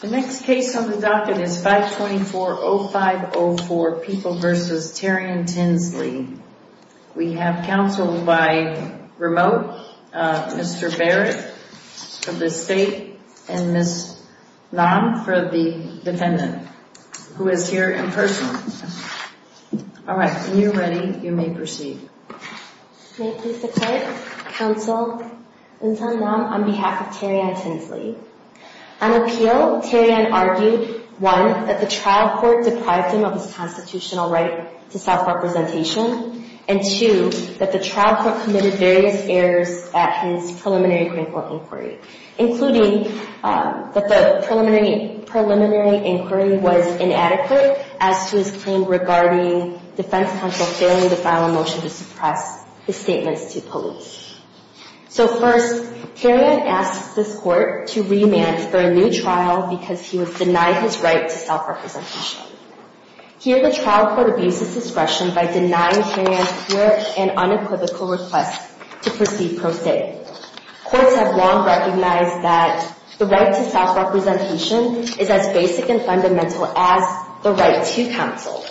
The next case on the docket is 524-0504, People v. Terry I. Tinsley. We have counsel by remote, Mr. Barrett of the state and Ms. Lam for the defendant, who is here in person. All right, when you're ready, you may proceed. May it please the court, counsel, Ms. Lam on behalf of Terry I. Tinsley. On appeal, Terry I. argued, one, that the trial court deprived him of his constitutional right to self-representation, and two, that the trial court committed various errors at his preliminary Green Court inquiry, including that the preliminary inquiry was inadequate as to his claim regarding defense counsel failing to file a motion to suppress his statements to police. So first, Terry I. asks this court to remand for a new trial because he was denied his right to self-representation. Here, the trial court abuses discretion by denying Terry I.'s clear and unequivocal request to proceed pro se. Courts have long recognized that the right to self-representation is as basic and fundamental as the right to counsel.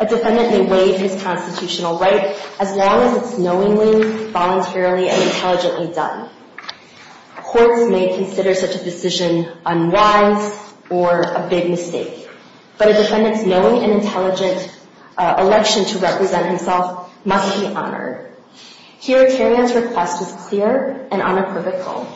A defendant may waive his constitutional right as long as it's knowingly, voluntarily, and intelligently done. Courts may consider such a decision unwise or a big mistake. But a defendant's knowing and intelligent election to represent himself must be honored. Here, Terry I.'s request is clear and unequivocal.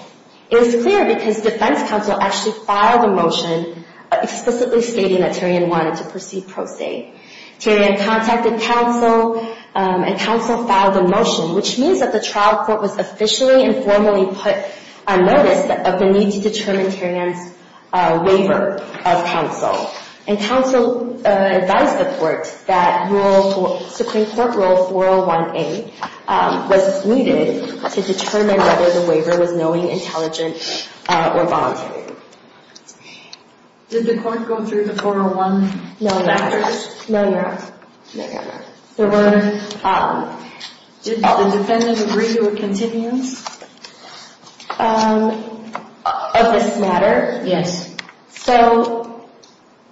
It is clear because defense counsel actually filed a motion explicitly stating that Terry I. wanted to proceed pro se. Terry I. contacted counsel, and counsel filed a motion, which means that the trial court was officially and formally put on notice of the need to determine Terry I.'s waiver of counsel. And counsel advised the court that Supreme Court Rule 401A was needed to determine whether the waiver was knowing, intelligent, or voluntary. Did the court go through the 401 matters? No, Your Honor. No, Your Honor. Did the defendant agree to a continuance? Of this matter? Yes. So,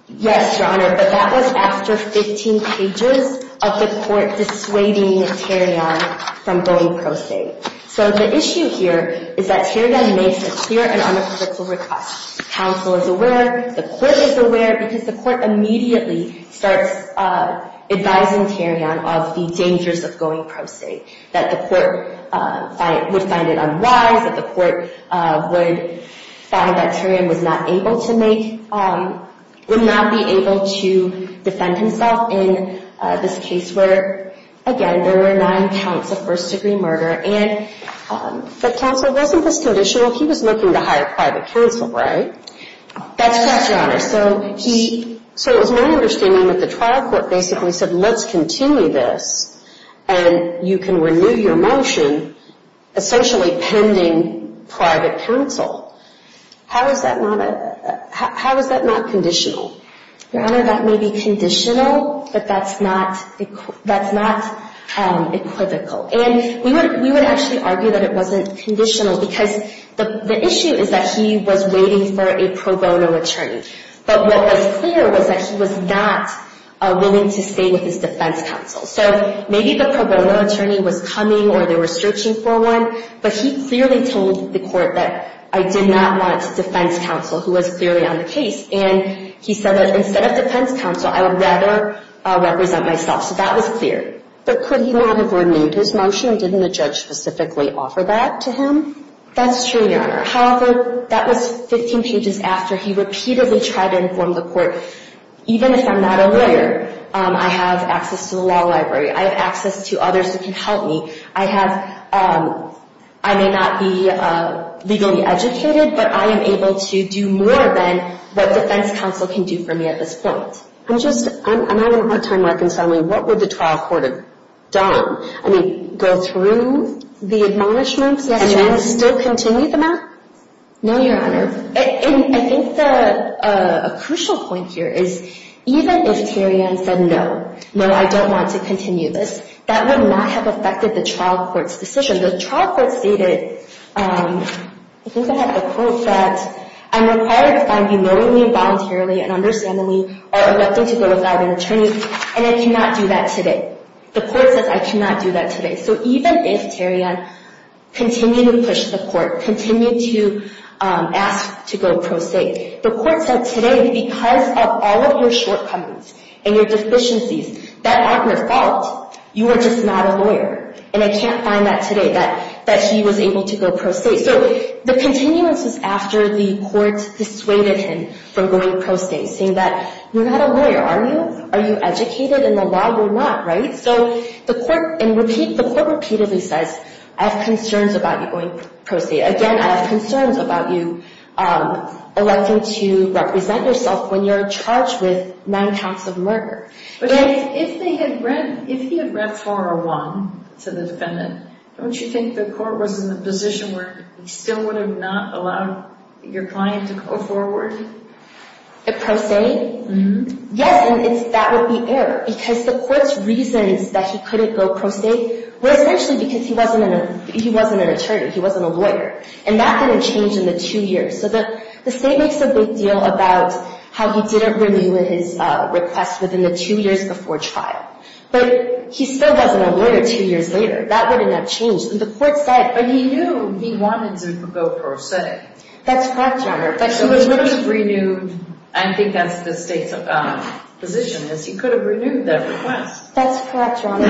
yes, Your Honor, but that was after 15 pages of the court dissuading Terry I. from going pro se. So the issue here is that Terry I. makes a clear and unequivocal request. Counsel is aware, the court is aware, because the court immediately starts advising Terry I. of the dangers of going pro se. That the court would find it unwise, that the court would find that Terry I. was not able to make, would not be able to defend himself in this case where, again, there were nine counts of first degree murder. But counsel wasn't this conditional. He was looking to hire private counsel, right? That's correct, Your Honor. So it was my understanding that the trial court basically said, let's continue this, and you can renew your motion, essentially pending private counsel. How is that not conditional? Your Honor, that may be conditional, but that's not equivocal. And we would actually argue that it wasn't conditional because the issue is that he was waiting for a pro bono attorney. But what was clear was that he was not willing to stay with his defense counsel. So maybe the pro bono attorney was coming or they were searching for one, but he clearly told the court that I did not want defense counsel, who was clearly on the case. And he said that instead of defense counsel, I would rather represent myself. So that was clear. But could he not have renewed his motion? Didn't the judge specifically offer that to him? That's true, Your Honor. However, that was 15 pages after he repeatedly tried to inform the court, even if I'm not a lawyer, I have access to the law library. I have access to others who can help me. I may not be legally educated, but I am able to do more than what defense counsel can do for me at this point. I'm having a hard time reconciling. What would the trial court have done? I mean, go through the admonishments and still continue the match? No, Your Honor. I think a crucial point here is even if Tarion said no, no, I don't want to continue this, that would not have affected the trial court's decision. The trial court stated, I think I have the quote, that I'm required to find you knowingly, voluntarily, and understandably are electing to go without an attorney. And I cannot do that today. The court says I cannot do that today. So even if Tarion continued to push the court, continued to ask to go pro se, the court said today because of all of your shortcomings and your deficiencies that aren't your fault, you are just not a lawyer. And I can't find that today, that he was able to go pro se. So the continuance is after the court dissuaded him from going pro se, saying that you're not a lawyer, are you? Are you educated in the law? You're not, right? So the court repeatedly says I have concerns about you going pro se. Again, I have concerns about you electing to represent yourself when you're charged with nine counts of murder. If he had read 401 to the defendant, don't you think the court was in a position where he still would have not allowed your client to go forward? Pro se? Yes, and that would be error. Because the court's reasons that he couldn't go pro se were essentially because he wasn't an attorney, he wasn't a lawyer. And that didn't change in the two years. So the state makes a big deal about how he didn't renew his request within the two years before trial. But he still wasn't a lawyer two years later. That wouldn't have changed. And the court said. But he knew he wanted to go pro se. That's correct, Your Honor. But he was willing to renew. I think that's the state's position, is he could have renewed that request. That's correct, Your Honor.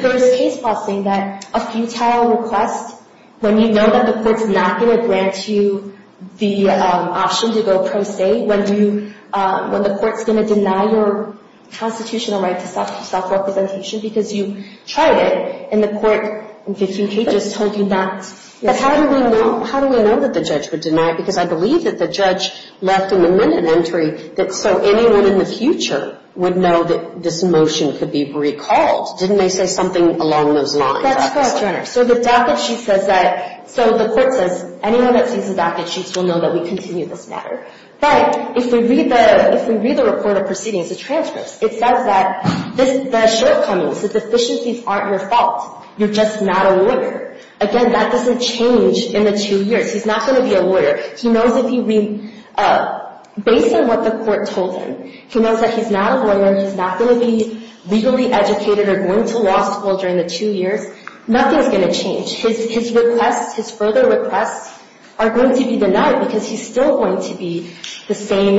There's case law saying that a futile request, when you know that the court's not going to grant you the option to go pro se, when the court's going to deny your constitutional right to self-representation because you tried it, and the court in 15 cases told you not. But how do we know that the judge would deny it? Because I believe that the judge left in the minute entry that so anyone in the future would know that this motion could be recalled. Didn't they say something along those lines? That's correct, Your Honor. So the docket sheet says that. So the court says anyone that sees the docket sheets will know that we continue this matter. But if we read the report of proceedings, the transcripts, it says that the shortcomings, the deficiencies aren't your fault. You're just not a lawyer. Again, that doesn't change in the two years. He's not going to be a lawyer. He knows if you read – based on what the court told him, he knows that he's not a lawyer, he's not going to be legally educated or going to law school during the two years. Nothing's going to change. His requests, his further requests are going to be denied because he's still going to be the same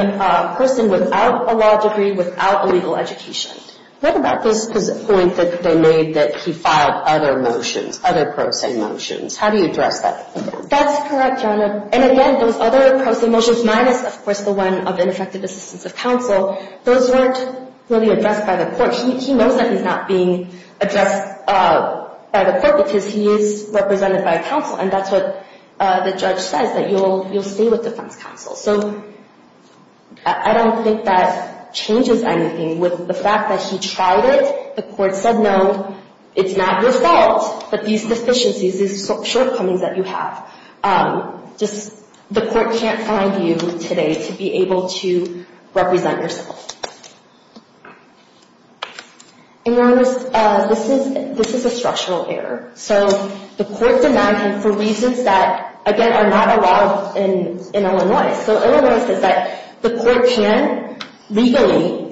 person without a law degree, without a legal education. What about this point that they made that he filed other motions, other pro se motions? How do you address that? That's correct, Your Honor. And, again, those other pro se motions minus, of course, the one of ineffective assistance of counsel, those weren't really addressed by the court. He knows that he's not being addressed by the court because he is represented by a counsel, and that's what the judge says, that you'll stay with defense counsel. So I don't think that changes anything. With the fact that he tried it, the court said, no, it's not your fault, but these deficiencies, these shortcomings that you have, just the court can't find you today to be able to represent yourself. In other words, this is a structural error. So the court denied him for reasons that, again, are not allowed in Illinois. So Illinois says that the court can't legally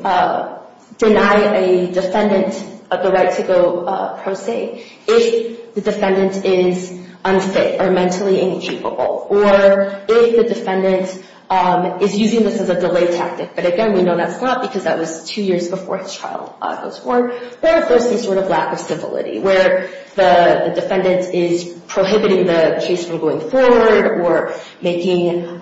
deny a defendant the right to go pro se if the defendant is unfit or mentally incapable, or if the defendant is using this as a delay tactic, but, again, we know that's not because that was two years before his trial goes forward, or if there's some sort of lack of civility where the defendant is prohibiting the case from going forward or making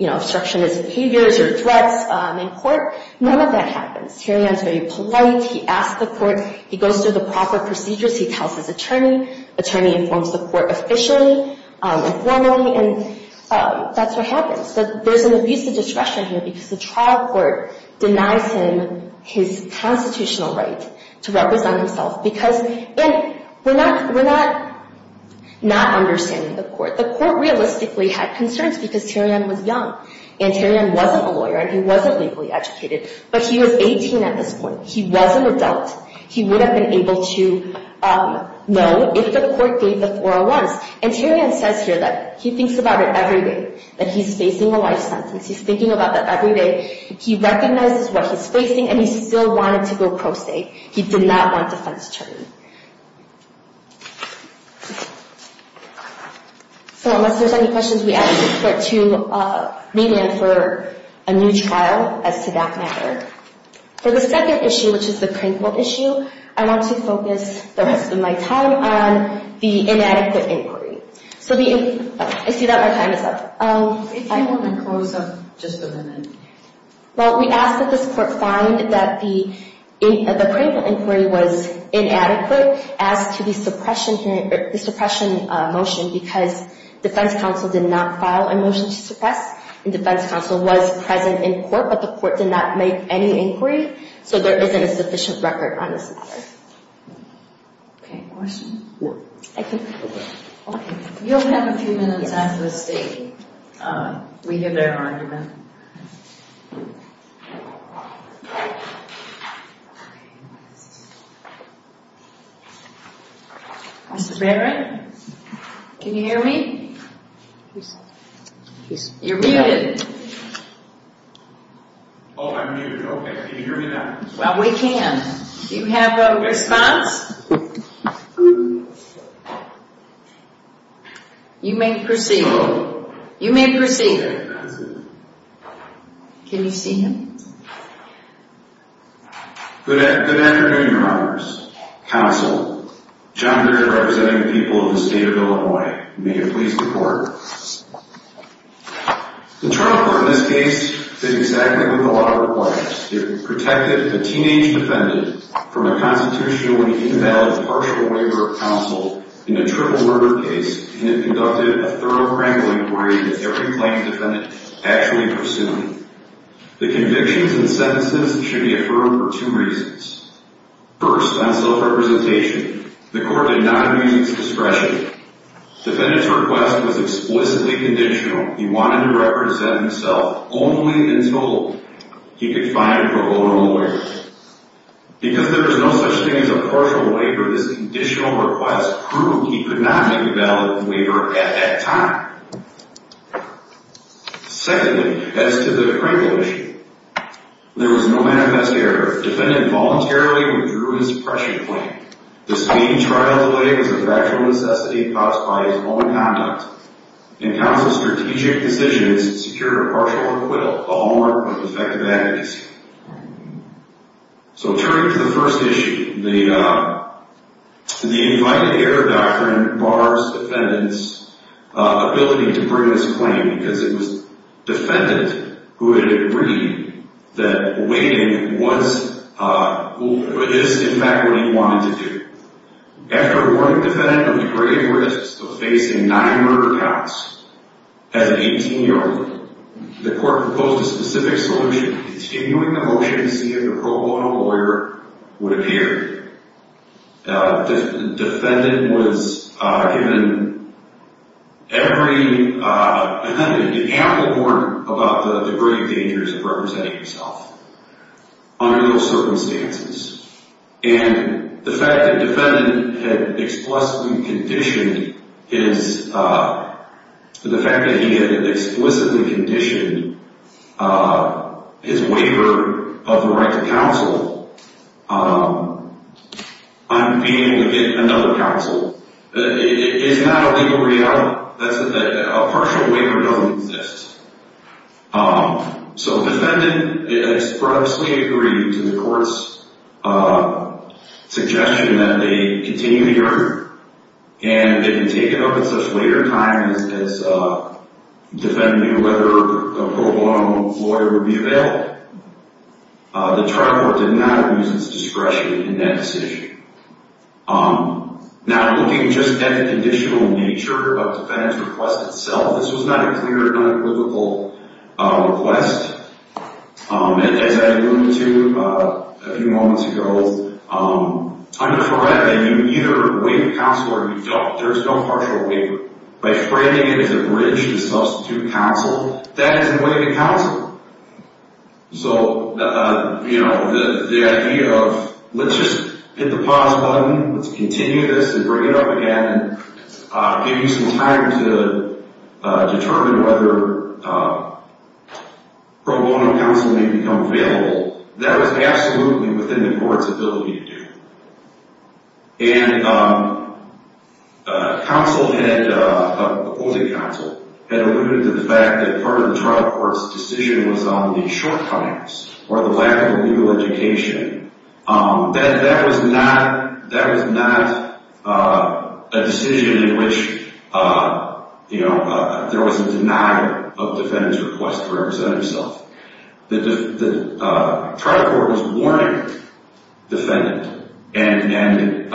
obstructionist behaviors or threats in court. None of that happens. Tarion is very polite. He asks the court. He goes through the proper procedures. He tells his attorney. The attorney informs the court officially and formally, and that's what happens. There's an abuse of discretion here because the trial court denies him his constitutional right to represent himself because we're not not understanding the court. The court realistically had concerns because Tarion was young, and Tarion wasn't a lawyer, and he wasn't legally educated, but he was 18 at this point. He was an adult. He would have been able to know if the court gave the 401s, and Tarion says here that he thinks about it every day, that he's facing a life sentence. He's thinking about that every day. He recognizes what he's facing, and he still wanted to go pro se. He did not want defense attorney. So unless there's any questions, we ask the court to meet him for a new trial as to that matter. For the second issue, which is the Crankville issue, I want to focus the rest of my time on the inadequate inquiry. I see that my time is up. If you want to close up, just go ahead. Well, we ask that this court find that the Crankville inquiry was inadequate as to the suppression motion because defense counsel did not file a motion to suppress, and defense counsel was present in court, but the court did not make any inquiry. So there isn't a sufficient record on this matter. Okay. Any questions? No. Okay. You'll have a few minutes after the state. We hear their argument. Mr. Barrett? Can you hear me? You're muted. Oh, I'm muted. Okay. Can you hear me now? Well, we can. Do you have a response? You may proceed. You may proceed. Can you see him? Good afternoon, Your Honors. Counsel, John Barrett representing the people of the state of Illinois. May it please the court. The trial court in this case did exactly what the law requires. It protected a teenage defendant from a constitutionally invalid partial waiver of counsel in a triple murder case, and it conducted a thorough Crankville inquiry that every plaintiff actually pursued. The convictions and sentences should be affirmed for two reasons. First, on self-representation, the court did not use suppression. Defendant's request was explicitly conditional. He wanted to represent himself only until he could find a pro bono lawyer. Because there was no such thing as a partial waiver, this conditional request proved he could not make a valid waiver at that time. Secondly, as to the Crankville issue, there was no manifest error. Defendant voluntarily withdrew his suppression claim. This main trial delay was a factual necessity caused by his own conduct. And counsel's strategic decisions secured a partial acquittal, a hallmark of effective advocacy. So turning to the first issue, the invited error doctrine bars defendant's ability to bring his claim because it was defendant who had agreed that waiting was in fact what he wanted to do. After warning defendant of the grave risks of facing nine murder counts as an 18-year-old, the court proposed a specific solution. Continuing the motion to see if a pro bono lawyer would appear. Defendant was given an ample warning about the grave dangers of representing himself under those circumstances. And the fact that defendant had explicitly conditioned his waiver of the right to counsel on being able to get another counsel is not a legal reality. A partial waiver doesn't exist. So defendant expressly agreed to the court's suggestion that they continue the argument. And it had been taken up at such later time as defendant knew whether a pro bono lawyer would be available. The trial court did not abuse its discretion in that decision. Now looking just at the conditional nature of defendant's request itself, this was not a clear and unequivocal request. And as I alluded to a few moments ago, I'm correct that you either waive counsel or you don't. There's no partial waiver. By framing it as a bridge to substitute counsel, that is a way to counsel. So, you know, the idea of let's just hit the pause button, let's continue this and bring it up again and give you some time to determine whether pro bono counsel may become available, that was absolutely within the court's ability to do. And counsel had, opposing counsel, had alluded to the fact that part of the trial court's decision was on the shortcomings or the lack of legal education. That was not a decision in which, you know, there was a denial of defendant's request to represent himself. The trial court was warning defendant and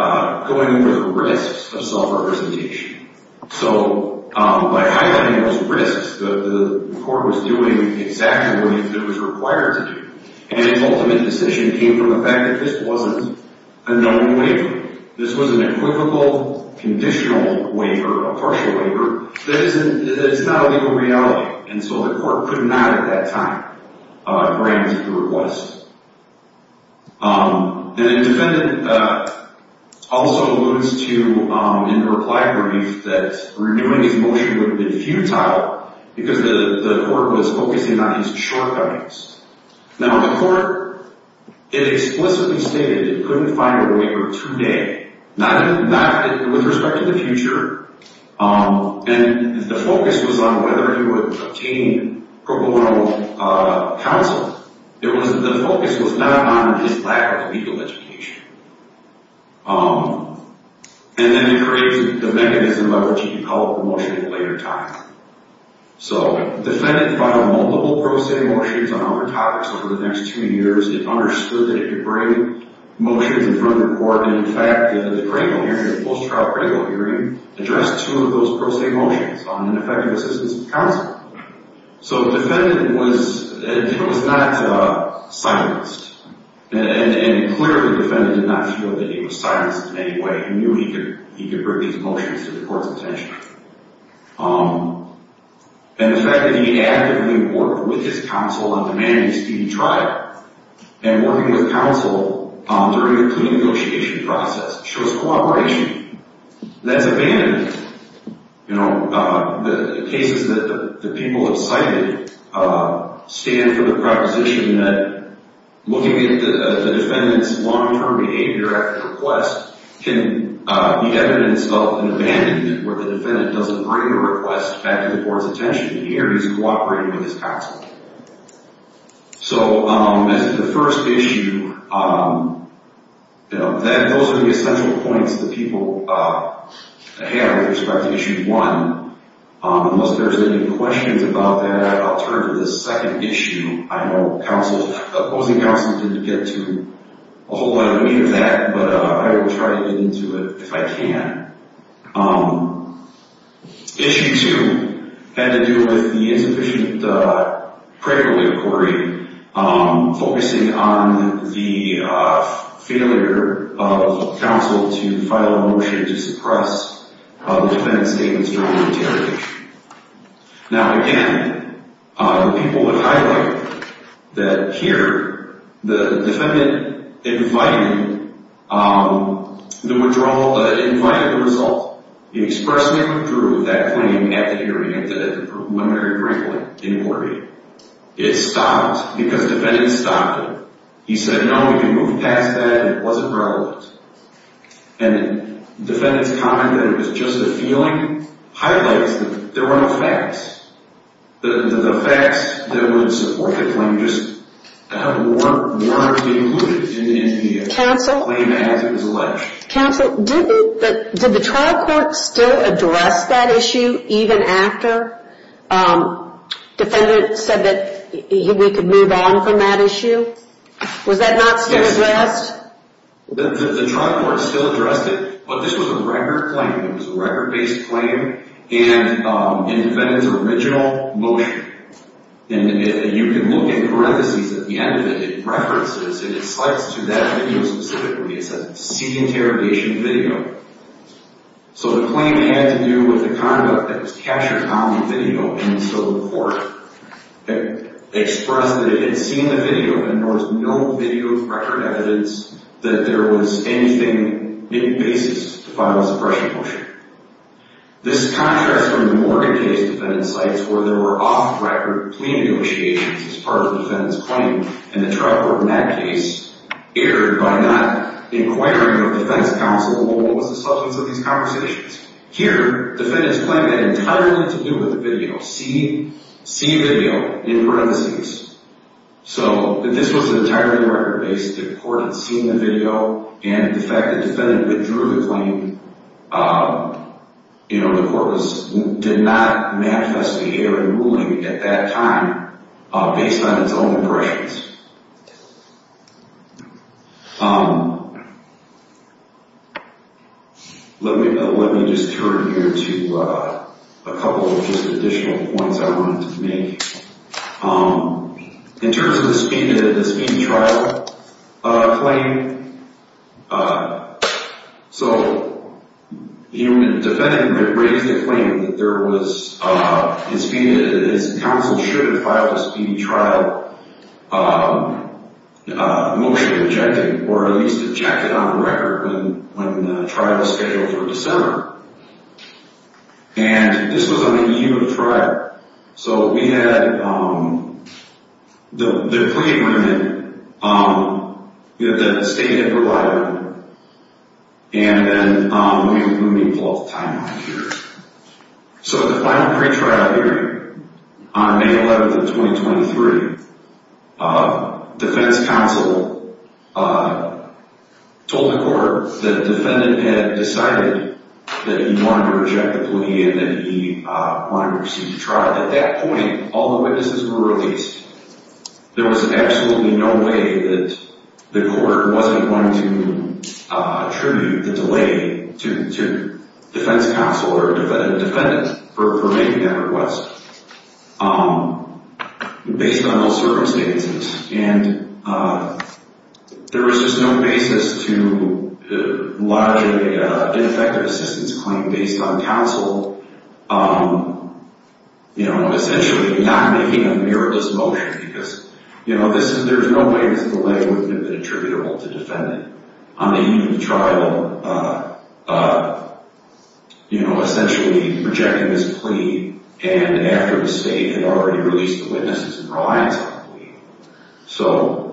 going over the risks of self-representation. So by highlighting those risks, the court was doing exactly what it was required to do. And its ultimate decision came from the fact that this wasn't a known waiver. This was an equivocal conditional waiver, a partial waiver, that is not a legal reality. And so the court could not at that time grant the request. And the defendant also alludes to, in the reply brief, that renewing his motion would have been futile because the court was focusing on his shortcomings. Now the court, it explicitly stated it couldn't find a waiver today. With respect to the future, and the focus was on whether he would obtain pro bono counsel, the focus was not on his lack of legal education. And then it creates the mechanism of which he could call a promotion at a later time. So the defendant filed multiple pro se motions on other topics over the next two years. It understood that he could bring motions in front of the court. And in fact, the post-trial pregnant hearing addressed two of those pro se motions on ineffective assistance of counsel. So the defendant was not silenced. And clearly the defendant did not feel that he was silenced in any way. He knew he could bring these motions to the court's attention. And the fact that he actively worked with his counsel on demanding speedy trial, and working with counsel during the plea negotiation process, shows cooperation. That's abandoned. The cases that the people have cited stand for the proposition that looking at the defendant's long-term behavior at the request can be evidence of an abandonment, where the defendant doesn't bring a request back to the court's attention. In here, he's cooperating with his counsel. So as to the first issue, those are the essential points that people have with respect to Issue 1. Unless there's any questions about that, I'll turn to this second issue. I know opposing counsel didn't get to a whole lot of the meat of that, but I will try to get into it if I can. Issue 2 had to do with the insufficient pregnant inquiry, focusing on the failure of counsel to file a motion to suppress the defendant's statements during the interrogation. Now, again, the people would highlight that here, the defendant invited the withdrawal, invited the result. He expressly withdrew that claim at the hearing, at the preliminary briefing inquiry. It stopped because the defendant stopped it. He said, no, you moved past that and it wasn't relevant. And the defendant's comment that it was just a feeling highlights that there were no facts. The facts that would support the claim just weren't included in the claim as it was alleged. Counsel, did the trial court still address that issue even after the defendant said that we could move on from that issue? Was that not still addressed? The trial court still addressed it, but this was a record claim. It was a record-based claim and the defendant's original motion. And you can look at the parentheses at the end of it. It references and it slides to that video specifically. It says, seek interrogation video. So the claim had to do with the conduct that was captured on the video and still before it. It expressed that it had seen the video and there was no video record evidence that there was anything in basis to file a suppression motion. This contrasts from the Morgan case defendant's sites where there were off-record plea negotiations as part of the defendant's claim. And the trial court in that case erred by not inquiring of the defense counsel what was the substance of these conversations. Here, defendant's claim had entirely to do with the video. See video in parentheses. So this was entirely record-based. The court had seen the video and the fact that the defendant withdrew the claim, you know, the court did not manifest behavior in ruling at that time based on its own impressions. Let me just turn here to a couple of just additional points I wanted to make. In terms of the speedy trial claim, so the defendant raised a claim that there was, his counsel should have filed a speedy trial motion objecting, or at least objected on the record when the trial was scheduled for December. And this was on the eve of the trial. So we had the plea agreement that the state had provided, and then let me pull up the timeline here. So the final pretrial hearing on May 11th of 2023, defense counsel told the court that the defendant had decided that he wanted to reject the plea and that he wanted to receive the trial. At that point, all the witnesses were released. There was absolutely no way that the court wasn't going to attribute the delay to defense counsel or a defendant for making that request based on those circumstances. And there was just no basis to lodge an ineffective assistance claim based on counsel, you know, essentially not making a meritless motion because, you know, there's no way that the delay wouldn't have been attributable to the defendant. On the eve of the trial, you know, essentially rejecting this plea and after the state had already released the witnesses and reliance on the plea. So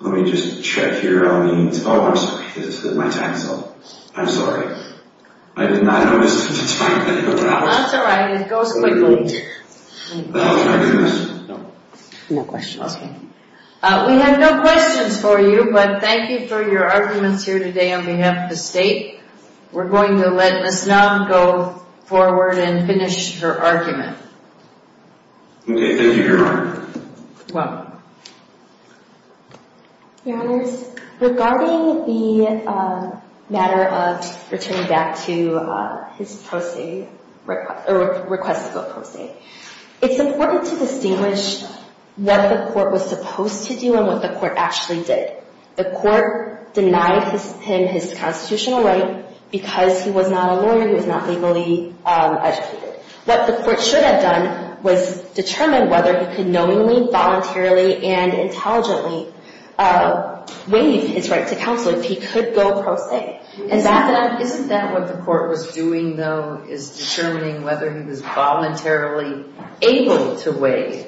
let me just check here on the, oh, I'm sorry, this is my time zone. I'm sorry. I did not notice at the time that you were out. That's all right. It goes quickly. Oh, my goodness. No. No questions. Okay. We have no questions for you, but thank you for your arguments here today on behalf of the state. We're going to let Ms. Knob go forward and finish her argument. Okay. Thank you, Your Honor. You're welcome. Your Honors, regarding the matter of returning back to his pro se or request of a pro se, it's important to distinguish what the court was supposed to do and what the court actually did. The court denied him his constitutional right because he was not a lawyer. He was not legally educated. What the court should have done was determine whether he could knowingly, voluntarily, and intelligently waive his right to counsel if he could go pro se. Isn't that what the court was doing, though, is determining whether he was voluntarily able to waive?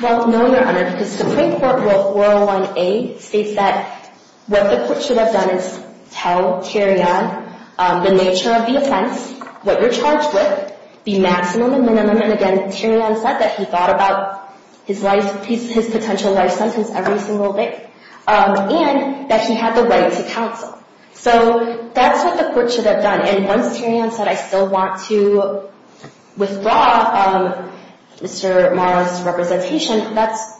Well, no, Your Honor, because Supreme Court Rule 401A states that what the court should have done was tell Tyrion the nature of the offense, what you're charged with, the maximum and minimum. And, again, Tyrion said that he thought about his potential life sentence every single day and that he had the right to counsel. So that's what the court should have done. And once Tyrion said, I still want to withdraw Mr. Morris's representation, that's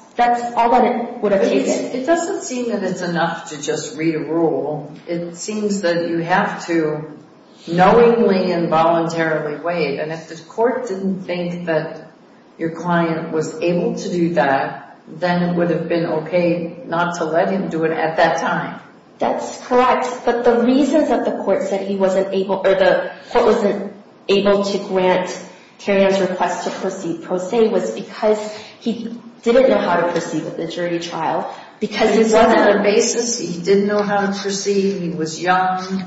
all that it would have taken. It doesn't seem that it's enough to just read a rule. It seems that you have to knowingly and voluntarily waive. And if the court didn't think that your client was able to do that, then it would have been okay not to let him do it at that time. That's correct. But the reasons that the court said he wasn't able to grant Tyrion's request to proceed pro se was because he didn't know how to proceed with the jury trial. He wasn't on a basis, he didn't know how to proceed, he was young.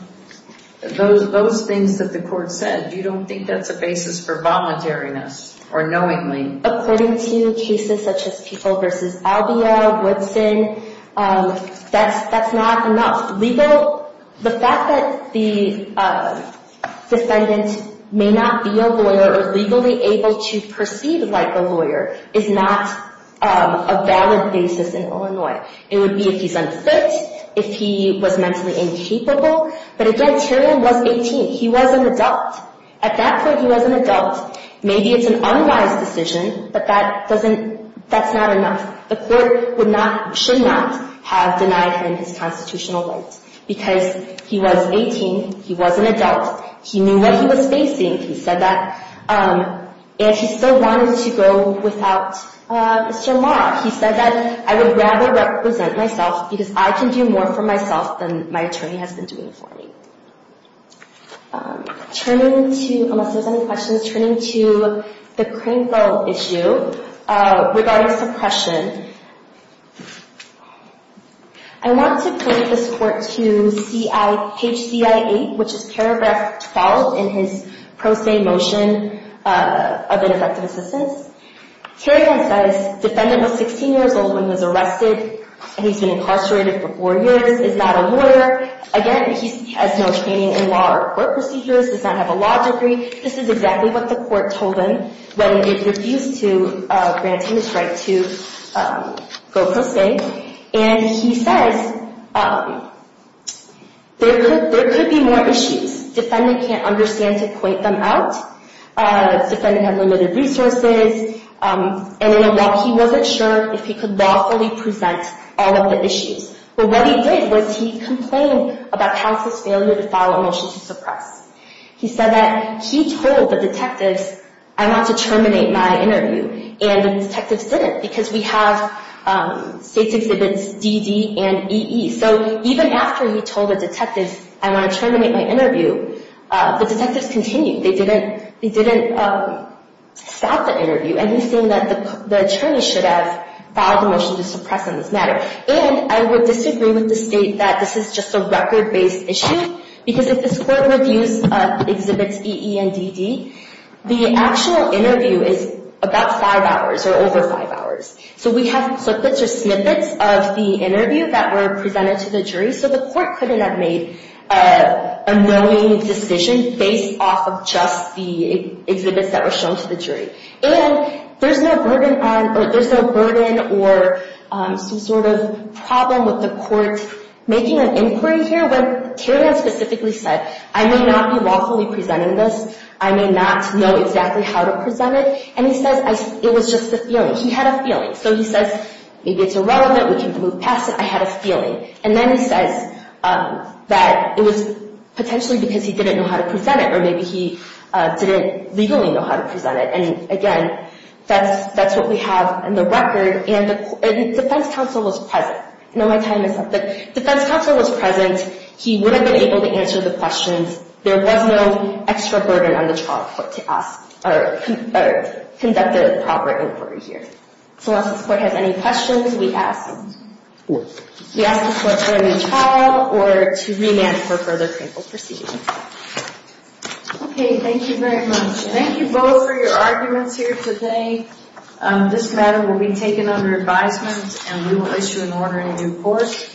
Those things that the court said, you don't think that's a basis for voluntariness or knowingly? According to cases such as People v. Albio, Woodson, that's not enough. The fact that the defendant may not be a lawyer or legally able to perceive like a lawyer is not a valid basis in Illinois. It would be if he's unfit, if he was mentally incapable. But again, Tyrion was 18. He was an adult. At that point, he was an adult. Maybe it's an unwise decision, but that's not enough. The court should not have denied him his constitutional right because he was 18. He was an adult. He knew what he was facing. He said that. And he still wanted to go without Mr. Law. He said that, I would rather represent myself because I can do more for myself than my attorney has been doing for me. Turning to, unless there's any questions, turning to the Craneville issue regarding suppression, I want to point this court to page CI-8, which is paragraph 12 in his pro se motion of ineffective assistance. Tyrion's defense, the defendant was 16 years old when he was arrested and he's been incarcerated for four years, is not a lawyer. Again, he has no training in law or court procedures, does not have a law degree. This is exactly what the court told him when it refused to grant him his right to go pro se. And he says there could be more issues. Defendant can't understand to point them out. Defendant has limited resources. And in a walk, he wasn't sure if he could lawfully present all of the issues. But what he did was he complained about House's failure to file a motion to suppress. He said that he told the detectives, I want to terminate my interview. And the detectives didn't because we have state exhibits DD and EE. So even after he told the detectives, I want to terminate my interview, the detectives continued. They didn't stop the interview. And he's saying that the attorney should have filed a motion to suppress on this matter. And I would disagree with the state that this is just a record-based issue. Because if this court reviews exhibits EE and DD, the actual interview is about five hours or over five hours. So we have snippets of the interview that were presented to the jury. So the court couldn't have made a knowing decision based off of just the exhibits that were shown to the jury. And there's no burden on or there's no burden or some sort of problem with the court making an inquiry here. But Tiernan specifically said, I may not be lawfully presenting this. I may not know exactly how to present it. And he says it was just a feeling. He had a feeling. So he says, maybe it's irrelevant. We can move past it. I had a feeling. And then he says that it was potentially because he didn't know how to present it or maybe he didn't legally know how to present it. And again, that's what we have in the record. And the defense counsel was present. Now my time is up. The defense counsel was present. He would have been able to answer the questions. There was no extra burden on the trial court to ask or conduct a proper inquiry here. So unless this court has any questions, we ask the court to adjourn the trial or to remand for further painful proceedings. OK. Thank you very much. Thank you both for your arguments here today. This matter will be taken under advisement, and we will issue an order in due course.